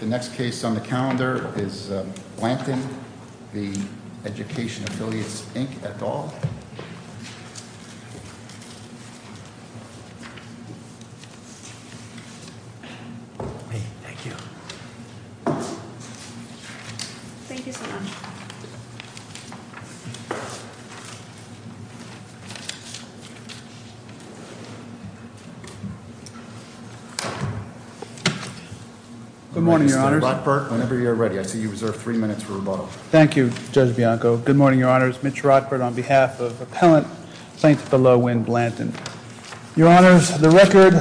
The next case on the calendar is Blanton v. Education Affiliates, Inc., et al. Thank you. Thank you so much. Good morning, Your Honors. Mr. Rockford, whenever you're ready. I see you reserve three minutes for rebuttal. Thank you, Judge Bianco. Good morning, Your Honors. Mitch Rockford on behalf of Appellant St. Thelowin Blanton. Your Honors, the record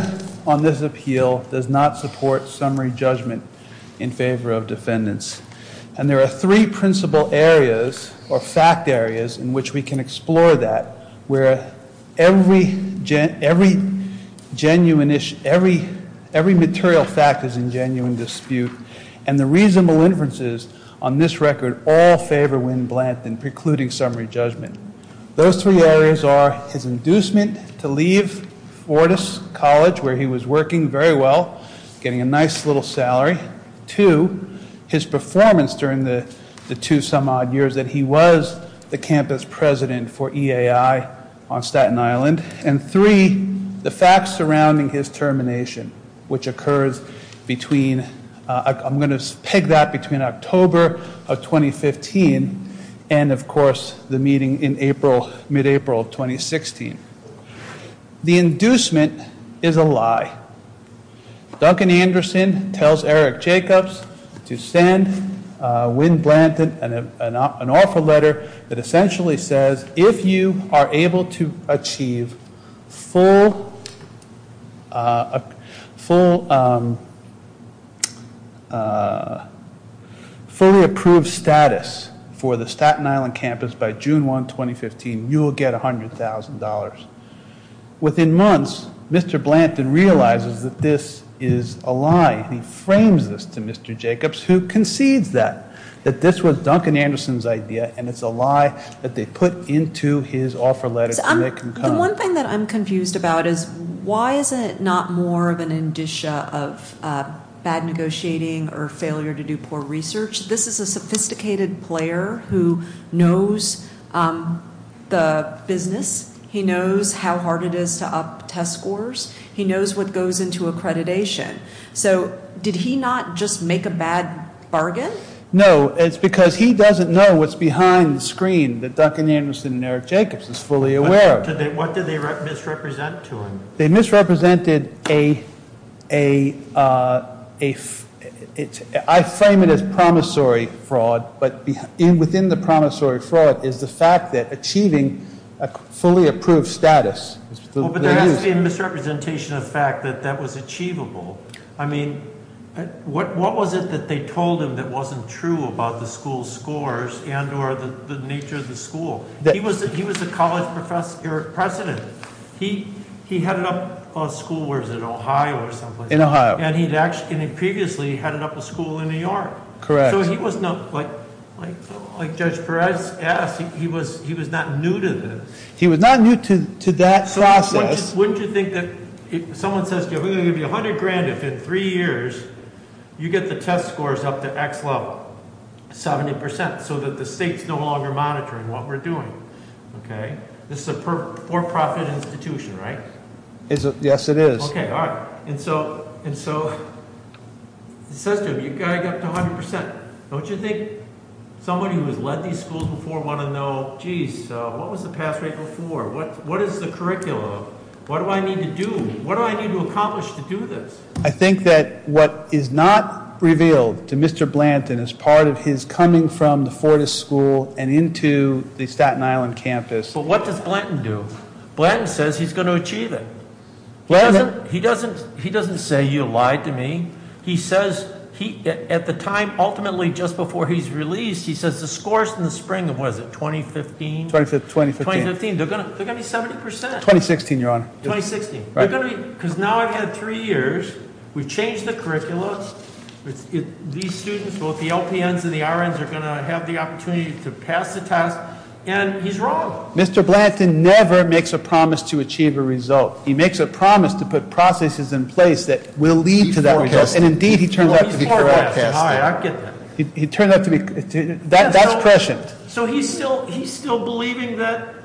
on this appeal does not support summary judgment in favor of defendants. And there are three principal areas, or fact areas, in which we can explore that, where every material fact is in genuine dispute. And the reasonable inferences on this record all favor Wynne Blanton precluding summary judgment. Those three areas are his inducement to leave Fortis College, where he was working very well, getting a nice little salary. Two, his performance during the two some odd years that he was the campus president for EAI on Staten Island. And three, the facts surrounding his termination, which occurs between, I'm going to peg that between October of 2015 and, of course, the meeting in April, mid-April of 2016. The inducement is a lie. Duncan Anderson tells Eric Jacobs to send Wynne Blanton an offer letter that essentially says, if you are able to achieve fully approved status for the Staten Island campus by June 1, 2015, you will get $100,000. Within months, Mr. Blanton realizes that this is a lie. He frames this to Mr. Jacobs, who concedes that, that this was Duncan Anderson's idea and it's a lie that they put into his offer letter. The one thing that I'm confused about is why is it not more of an indicia of bad negotiating or failure to do poor research? This is a sophisticated player who knows the business. He knows how hard it is to up test scores. He knows what goes into accreditation. So did he not just make a bad bargain? No, it's because he doesn't know what's behind the screen that Duncan Anderson and Eric Jacobs is fully aware of. What did they misrepresent to him? They misrepresented a, I frame it as promissory fraud, but within the promissory fraud is the fact that achieving a fully approved status. But there has to be a misrepresentation of fact that that was achievable. I mean, what was it that they told him that wasn't true about the school's scores and or the nature of the school? He was a college president. He headed up a school, where is it, Ohio or someplace? In Ohio. And he'd actually previously headed up a school in New York. Correct. So he was not, like Judge Perez asked, he was not new to this. He was not new to that process. So wouldn't you think that if someone says, we're going to give you 100 grand if in three years you get the test scores up to X level, 70%, so that the state's no longer monitoring what we're doing, okay? This is a for-profit institution, right? Yes, it is. Okay, all right. And so it says to him, you've got to get up to 100%. Don't you think somebody who has led these schools before would want to know, geez, what was the pass rate before? What is the curriculum? What do I need to do? What do I need to accomplish to do this? I think that what is not revealed to Mr. Blanton as part of his coming from the Fortis School and into the Staten Island campus- But what does Blanton do? Blanton says he's going to achieve it. Blanton- He doesn't say you lied to me. He says, at the time, ultimately just before he's released, he says the scores in the spring of, what is it, 2015? 2015. They're going to be 70%. 2016, Your Honor. 2016. Because now I've had three years. We've changed the curricula. These students, both the LPNs and the RNs, are going to have the opportunity to pass the test. And he's wrong. Mr. Blanton never makes a promise to achieve a result. He makes a promise to put processes in place that will lead to that result. And, indeed, he turns out to be correct. All right, I get that. He turns out to be- That's prescient. So he's still believing that-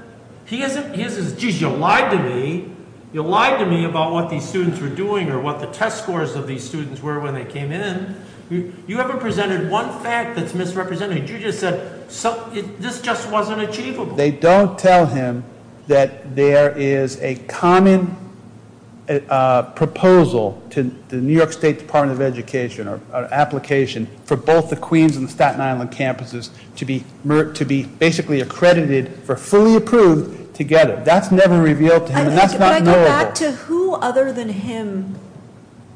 He says, geez, you lied to me. You lied to me about what these students were doing or what the test scores of these students were when they came in. You haven't presented one fact that's misrepresented. You just said this just wasn't achievable. They don't tell him that there is a common proposal to the New York State Department of Education or application for both the Queens and Staten Island campuses to be basically accredited for fully approved together. That's never revealed to him. And that's not knowable. But I go back to who other than him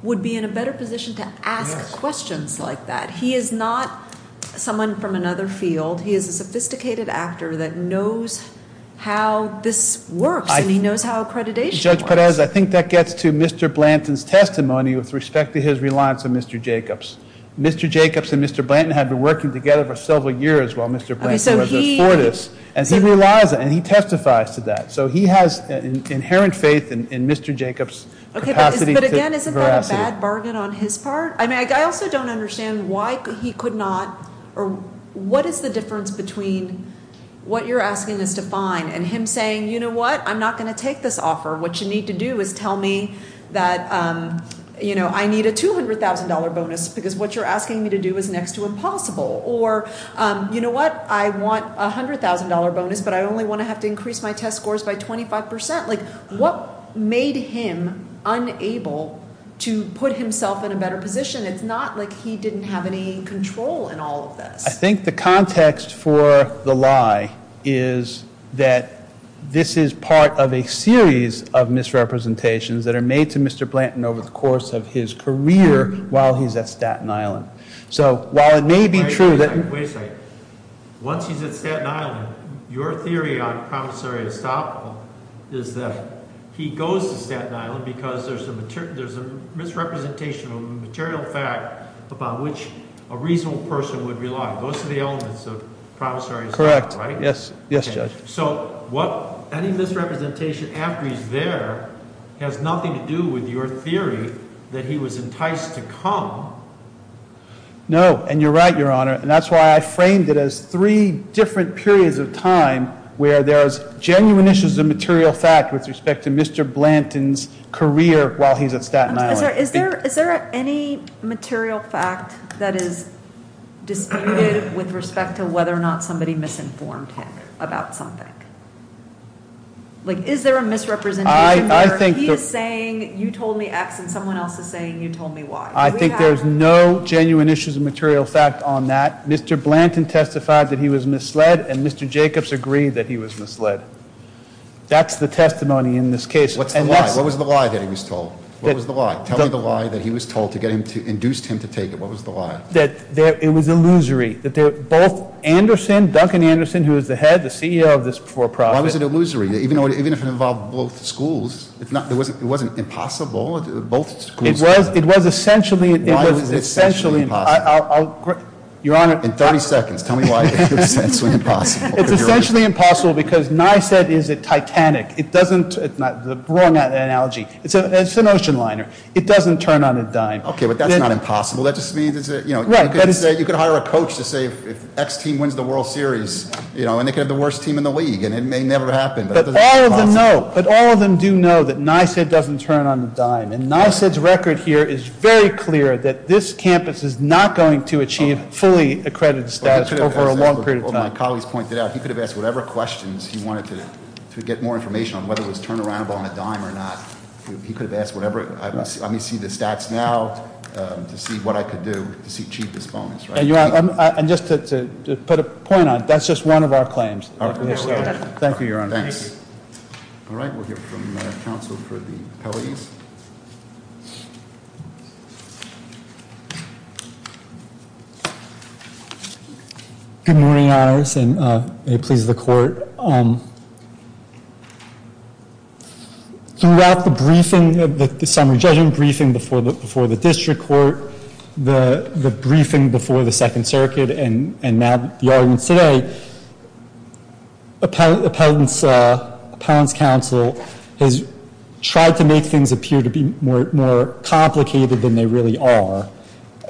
would be in a better position to ask questions like that. He is not someone from another field. He is a sophisticated actor that knows how this works, and he knows how accreditation works. Judge Perez, I think that gets to Mr. Blanton's testimony with respect to his reliance on Mr. Jacobs. Mr. Jacobs and Mr. Blanton had been working together for several years while Mr. Blanton was at Fortis, and he relies on it, and he testifies to that. So he has inherent faith in Mr. Jacobs' capacity to- But, again, isn't that a bad bargain on his part? I also don't understand why he could not or what is the difference between what you're asking us to find and him saying, you know what, I'm not going to take this offer. What you need to do is tell me that I need a $200,000 bonus because what you're asking me to do is next to impossible. Or, you know what, I want a $100,000 bonus, but I only want to have to increase my test scores by 25%. What made him unable to put himself in a better position? It's not like he didn't have any control in all of this. I think the context for the lie is that this is part of a series of misrepresentations that are made to Mr. Blanton over the course of his career while he's at Staten Island. So while it may be true that- Wait a second, wait a second. Once he's at Staten Island, your theory on promissory estoppel is that he goes to Staten Island because there's a misrepresentation of a material fact upon which a reasonable person would rely. Those are the elements of promissory estoppel, right? Correct. Yes. Yes, Judge. Any misrepresentation after he's there has nothing to do with your theory that he was enticed to come. No, and you're right, Your Honor, and that's why I framed it as three different periods of time where there's genuine issues of material fact with respect to Mr. Blanton's career while he's at Staten Island. Is there any material fact that is disputed with respect to whether or not somebody misinformed him about something? Is there a misrepresentation where he is saying you told me X and someone else is saying you told me Y? I think there's no genuine issues of material fact on that. Mr. Blanton testified that he was misled and Mr. Jacobs agreed that he was misled. That's the testimony in this case. What's the lie? What was the lie that he was told? What was the lie? Tell me the lie that he was told to get him to, induced him to take it. What was the lie? That it was illusory. That both Anderson, Duncan Anderson, who is the head, the CEO of this for-profit. Why was it illusory? Even if it involved both schools, it wasn't impossible? It was essentially. Why was it essentially impossible? I'll, Your Honor. In 30 seconds, tell me why it was essentially impossible. It's essentially impossible because NYSED is a titanic. It doesn't, the wrong analogy. It's an ocean liner. It doesn't turn on a dime. Okay, but that's not impossible. That just means, you know, you could hire a coach to say if X team wins the World Series, you know, and they could have the worst team in the league and it may never happen. But all of them know, but all of them do know that NYSED doesn't turn on a dime. And NYSED's record here is very clear that this campus is not going to achieve fully accredited status over a long period of time. He could have asked whatever questions he wanted to get more information on whether it was turn around on a dime or not. He could have asked whatever, let me see the stats now to see what I could do to achieve this bonus. And just to put a point on, that's just one of our claims. Thank you, Your Honor. Thanks. Good morning, Your Honor, and may it please the court. Throughout the briefing, the summary judgment briefing before the district court, the briefing before the Second Circuit, and now the audience today, appellant's counsel has tried to make things appear to be more complicated than they really are.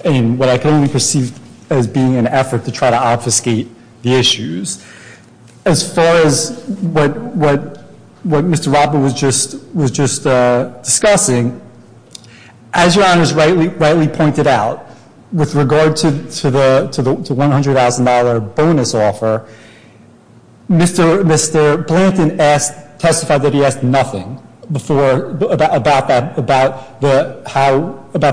And what I can only perceive as being an effort to try to obfuscate the issues. As far as what Mr. Robert was just discussing, as Your Honor's rightly pointed out, with regard to the $100,000 bonus offer, Mr. Blanton testified that he asked nothing about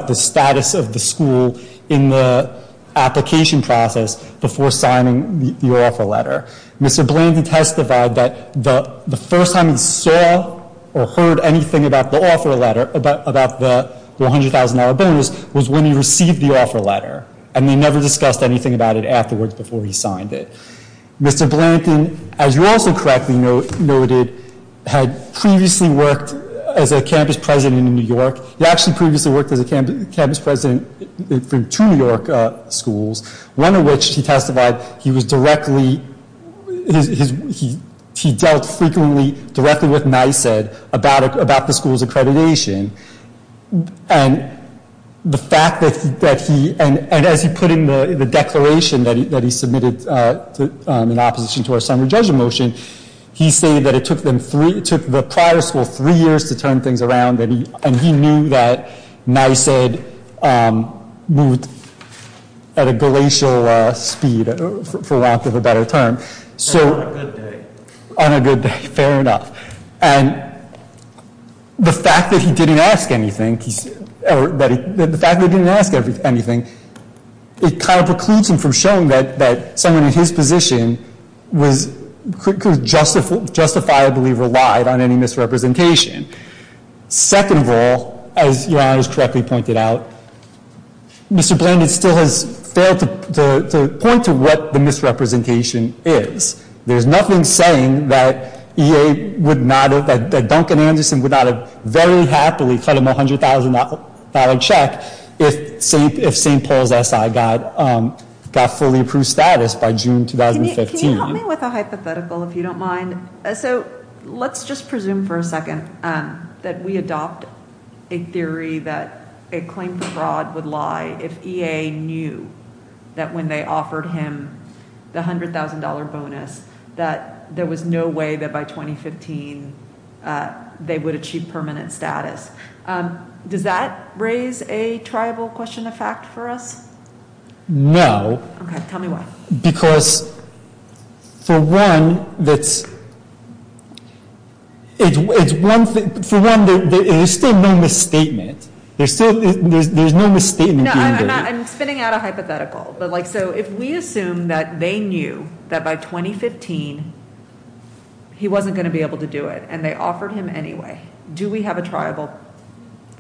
the status of the school in the application process before signing the offer letter. Mr. Blanton testified that the first time he saw or heard anything about the offer letter, about the $100,000 bonus, was when he received the offer letter. And he never discussed anything about it afterwards before he signed it. Mr. Blanton, as you also correctly noted, had previously worked as a campus president in New York. He actually previously worked as a campus president for two New York schools, one of which he testified he was directly, he dealt frequently directly with NYSED about the school's accreditation. And the fact that he, and as he put in the declaration that he submitted in opposition to our summary judgment motion, he stated that it took the prior school three years to turn things around, and he knew that NYSED moved at a glacial speed, for lack of a better term. On a good day. On a good day, fair enough. And the fact that he didn't ask anything, or the fact that he didn't ask anything, it kind of precludes him from showing that someone in his position was justifiably relied on any misrepresentation. Second of all, as Your Honor has correctly pointed out, Mr. Blanton still has failed to point to what the misrepresentation is. There's nothing saying that E.A. would not have, that Duncan Anderson would not have very happily cut him a $100,000 check if St. Paul's SI got fully approved status by June 2015. Can you help me with a hypothetical if you don't mind? So let's just presume for a second that we adopt a theory that a claim for fraud would lie if E.A. knew that when they offered him the $100,000 bonus that there was no way that by 2015 they would achieve permanent status. Does that raise a triable question of fact for us? No. Okay, tell me why. Because for one, there's still no misstatement. There's no misstatement being given. I'm spinning out a hypothetical. So if we assume that they knew that by 2015 he wasn't going to be able to do it, and they offered him anyway, do we have a triable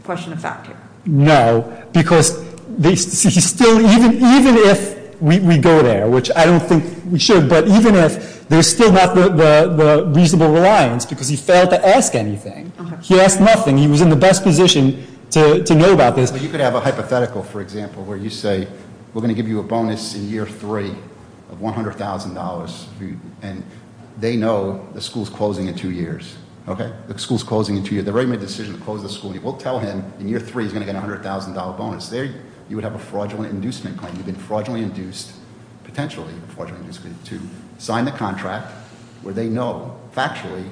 question of fact here? No, because he's still, even if we go there, which I don't think we should, but even if there's still not the reasonable reliance because he failed to ask anything. He asked nothing. He was in the best position to know about this. But you could have a hypothetical, for example, where you say we're going to give you a bonus in year three of $100,000, and they know the school's closing in two years, okay? The school's closing in two years. They've already made a decision to close the school, and you will tell him in year three he's going to get a $100,000 bonus. There, you would have a fraudulent inducement claim. You've been fraudulently induced, potentially, to sign the contract where they know factually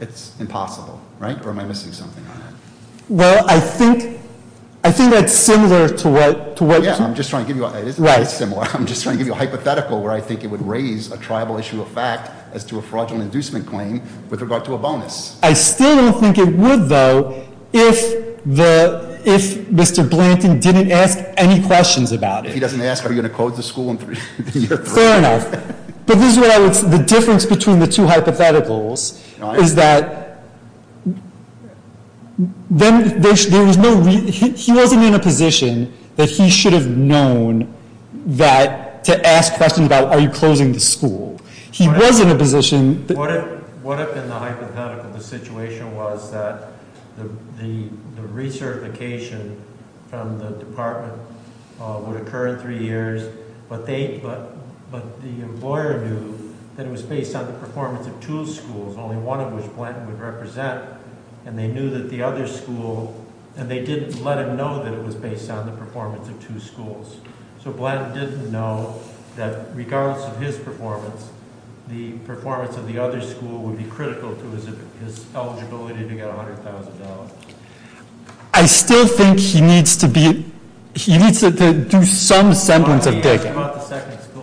it's impossible, right? Or am I missing something on that? Well, I think that's similar to what- Yeah, I'm just trying to give you a hypothetical where I think it would raise a triable issue of fact as to a fraudulent inducement claim with regard to a bonus. I still don't think it would, though, if Mr. Blanton didn't ask any questions about it. If he doesn't ask, are you going to close the school in year three? Fair enough. But this is what I would say. The difference between the two hypotheticals is that he wasn't in a position that he should have known to ask questions about are you closing the school. He was in a position- What if in the hypothetical the situation was that the recertification from the department would occur in three years, but the employer knew that it was based on the performance of two schools, only one of which Blanton would represent, and they knew that the other school- and they didn't let him know that it was based on the performance of two schools. So Blanton didn't know that regardless of his performance, the performance of the other school would be critical to his eligibility to get $100,000. I still think he needs to do some semblance of digging. What about the second school?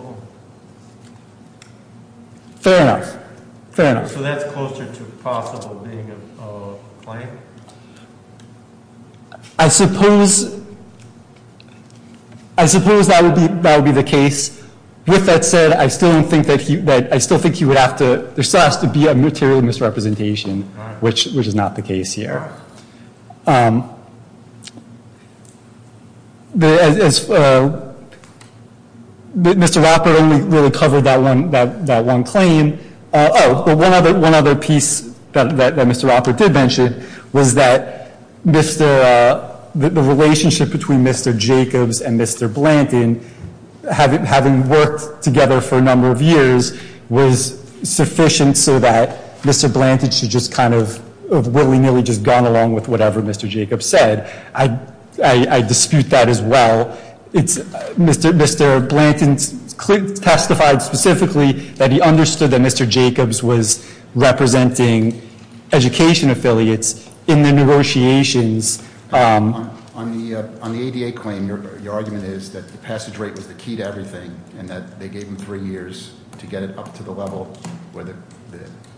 Fair enough. Fair enough. So that's closer to possible being a claim? I suppose that would be the case. With that said, I still think there still has to be a material misrepresentation, which is not the case here. Mr. Roper only really covered that one claim. Oh, one other piece that Mr. Roper did mention was that the relationship between Mr. Jacobs and Mr. Blanton, having worked together for a number of years, was sufficient so that Mr. Blanton should have just kind of willy-nilly gone along with whatever Mr. Jacobs said. I dispute that as well. Mr. Blanton testified specifically that he understood that Mr. Jacobs was representing education affiliates in the negotiations. On the ADA claim, your argument is that the passage rate was the key to everything, and that they gave him three years to get it up to the level where they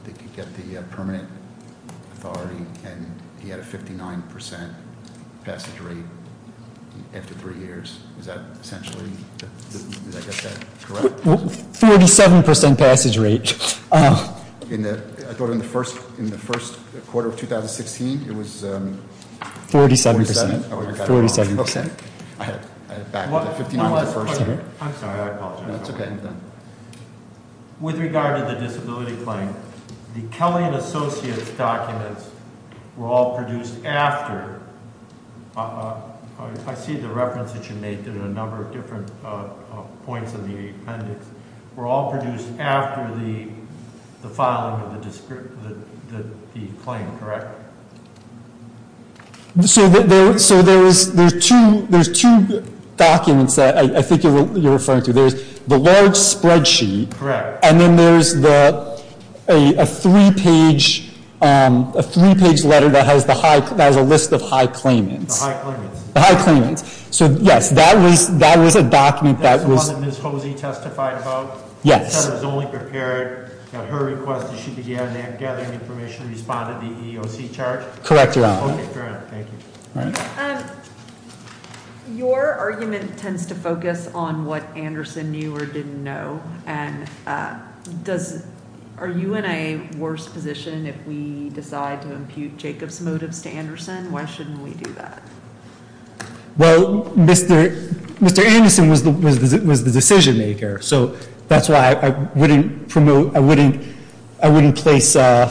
could get the permanent authority, and he had a 59% passage rate after three years. Is that essentially correct? 47% passage rate. I thought in the first quarter of 2016 it was 47%? 47%. I had it back to the 59% in the first quarter. I'm sorry. I apologize. That's okay. With regard to the disability claim, the Kelly and Associates documents were all produced after. I see the reference that you made to a number of different points in the appendix. They were all produced after the filing of the claim, correct? So there's two documents that I think you're referring to. There's the large spreadsheet. Correct. And then there's a three-page letter that has a list of high claimants. The high claimants. The high claimants. So, yes, that was a document that was. The one that Ms. Hosey testified about? Yes. It said it was only prepared at her request, and she began gathering information and responded to the EEOC charge? Correct, Your Honor. Okay, fair enough. Thank you. Your argument tends to focus on what Anderson knew or didn't know, and are you in a worse position if we decide to impute Jacob's motives to Anderson? Why shouldn't we do that? Well, Mr. Anderson was the decision-maker, so that's why I wouldn't promote, I wouldn't place, I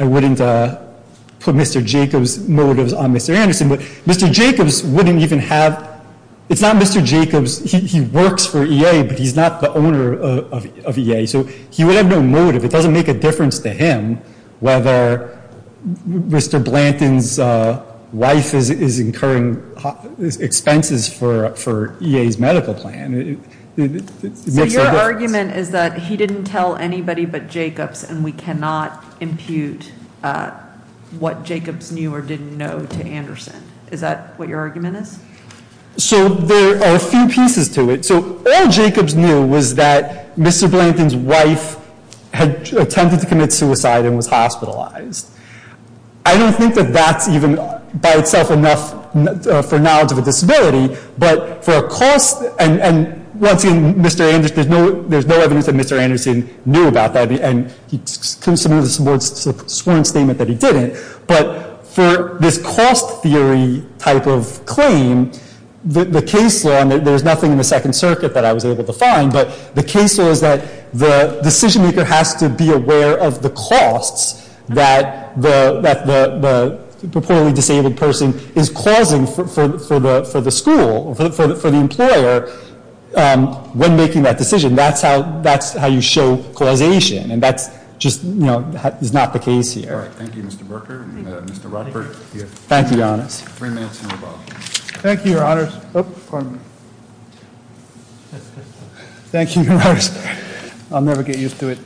wouldn't put Mr. Jacob's motives on Mr. Anderson. But Mr. Jacob's wouldn't even have, it's not Mr. Jacob's. He works for EA, but he's not the owner of EA, so he would have no motive. It doesn't make a difference to him whether Mr. Blanton's wife is incurring expenses for EA's medical plan. So your argument is that he didn't tell anybody but Jacob's, and we cannot impute what Jacob's knew or didn't know to Anderson. Is that what your argument is? So there are a few pieces to it. So all Jacob's knew was that Mr. Blanton's wife had attempted to commit suicide and was hospitalized. I don't think that that's even by itself enough for knowledge of a disability, but for a cost, and once again, Mr. Anderson, there's no evidence that Mr. Anderson knew about that, and he couldn't submit a sworn statement that he didn't, But for this cost theory type of claim, the case law, and there's nothing in the Second Circuit that I was able to find, but the case law is that the decision maker has to be aware of the costs that the purportedly disabled person is causing for the school or for the employer when making that decision. That's how you show causation, and that's just not the case here. All right. Thank you, Mr. Berker and Mr. Rockford. Thank you, Your Honors. Thank you, Your Honors. I'll never get used to it.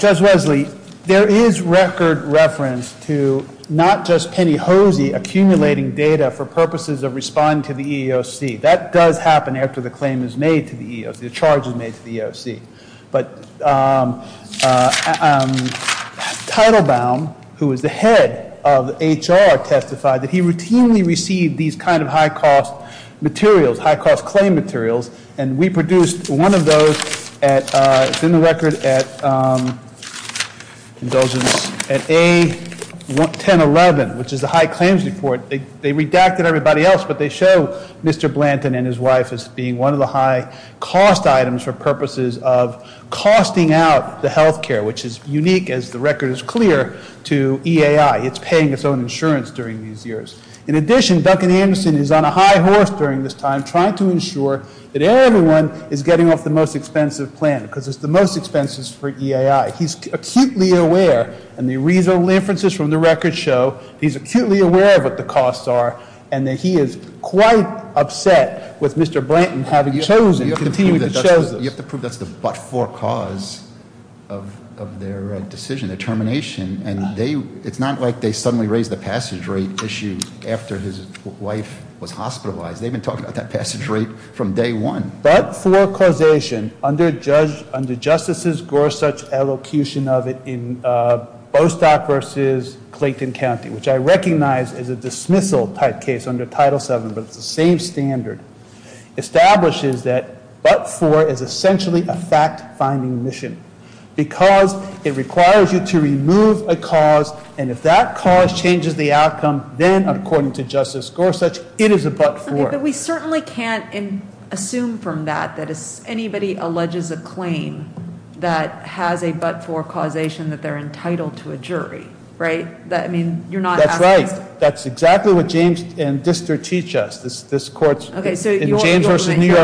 Judge Wesley, there is record reference to not just Penny Hosey accumulating data for purposes of responding to the EEOC. That does happen after the claim is made to the EEOC, the charge is made to the EEOC. But Teitelbaum, who is the head of HR, testified that he routinely received these kind of high-cost materials, high-cost claim materials, and we produced one of those. It's in the record at A1011, which is the high claims report. They redacted everybody else, but they show Mr. Blanton and his wife as being one of the high-cost items for purposes of costing out the health care, which is unique, as the record is clear, to EAI. It's paying its own insurance during these years. In addition, Duncan Anderson is on a high horse during this time trying to ensure that everyone is getting off the most expensive plan because it's the most expensive for EAI. He's acutely aware, and the reasonable inferences from the record show, he's acutely aware of what the costs are and that he is quite upset with Mr. Blanton having chosen, continuing to choose this. You have to prove that's the but-for cause of their decision, their termination, and it's not like they suddenly raised the passage rate issue after his wife was hospitalized. They've been talking about that passage rate from day one. The but-for causation under Justice Gorsuch's elocution of it in Bostock versus Clayton County, which I recognize is a dismissal-type case under Title VII, but it's the same standard, establishes that but-for is essentially a fact-finding mission because it requires you to remove a cause, and if that cause changes the outcome, then, according to Justice Gorsuch, it is a but-for. But we certainly can't assume from that that if anybody alleges a claim that has a but-for causation that they're entitled to a jury, right? That's right. That's exactly what James and Distor teach us. This court's in James versus New York Racing. Okay, so your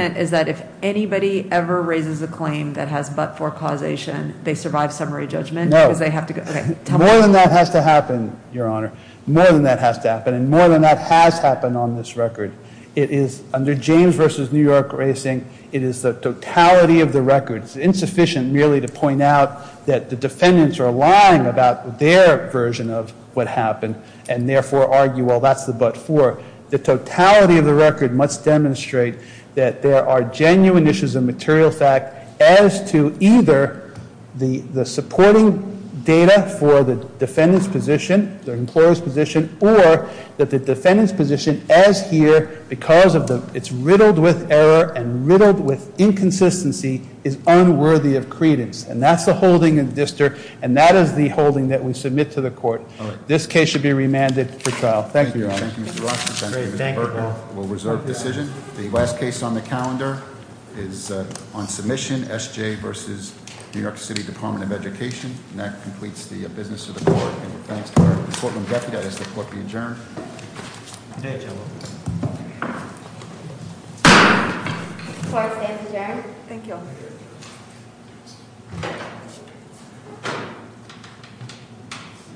argument is that if anybody ever raises a claim that has but-for causation, they survive summary judgment because they have to go, okay. No. More than that has to happen, Your Honor. More than that has to happen, and more than that has happened on this record. It is under James versus New York Racing, it is the totality of the record. It's insufficient merely to point out that the defendants are lying about their version of what happened and therefore argue, well, that's the but-for. The totality of the record must demonstrate that there are genuine issues of material fact as to either the supporting data for the defendant's position, the employer's position, or that the defendant's position as here, because it's riddled with error and riddled with inconsistency, is unworthy of credence. And that's the holding of Distor, and that is the holding that we submit to the court. All right. This case should be remanded for trial. Thank you, Your Honor. Thank you, Mr. Roth. Thank you, Mr. Berger. We'll reserve the decision. The last case on the calendar is on submission, SJ versus New York City Department of Education. And that completes the business of the court. And we're thanks to our courtroom deputy. I ask the court be adjourned. Good day, gentlemen. The court stands adjourned. Thank you all.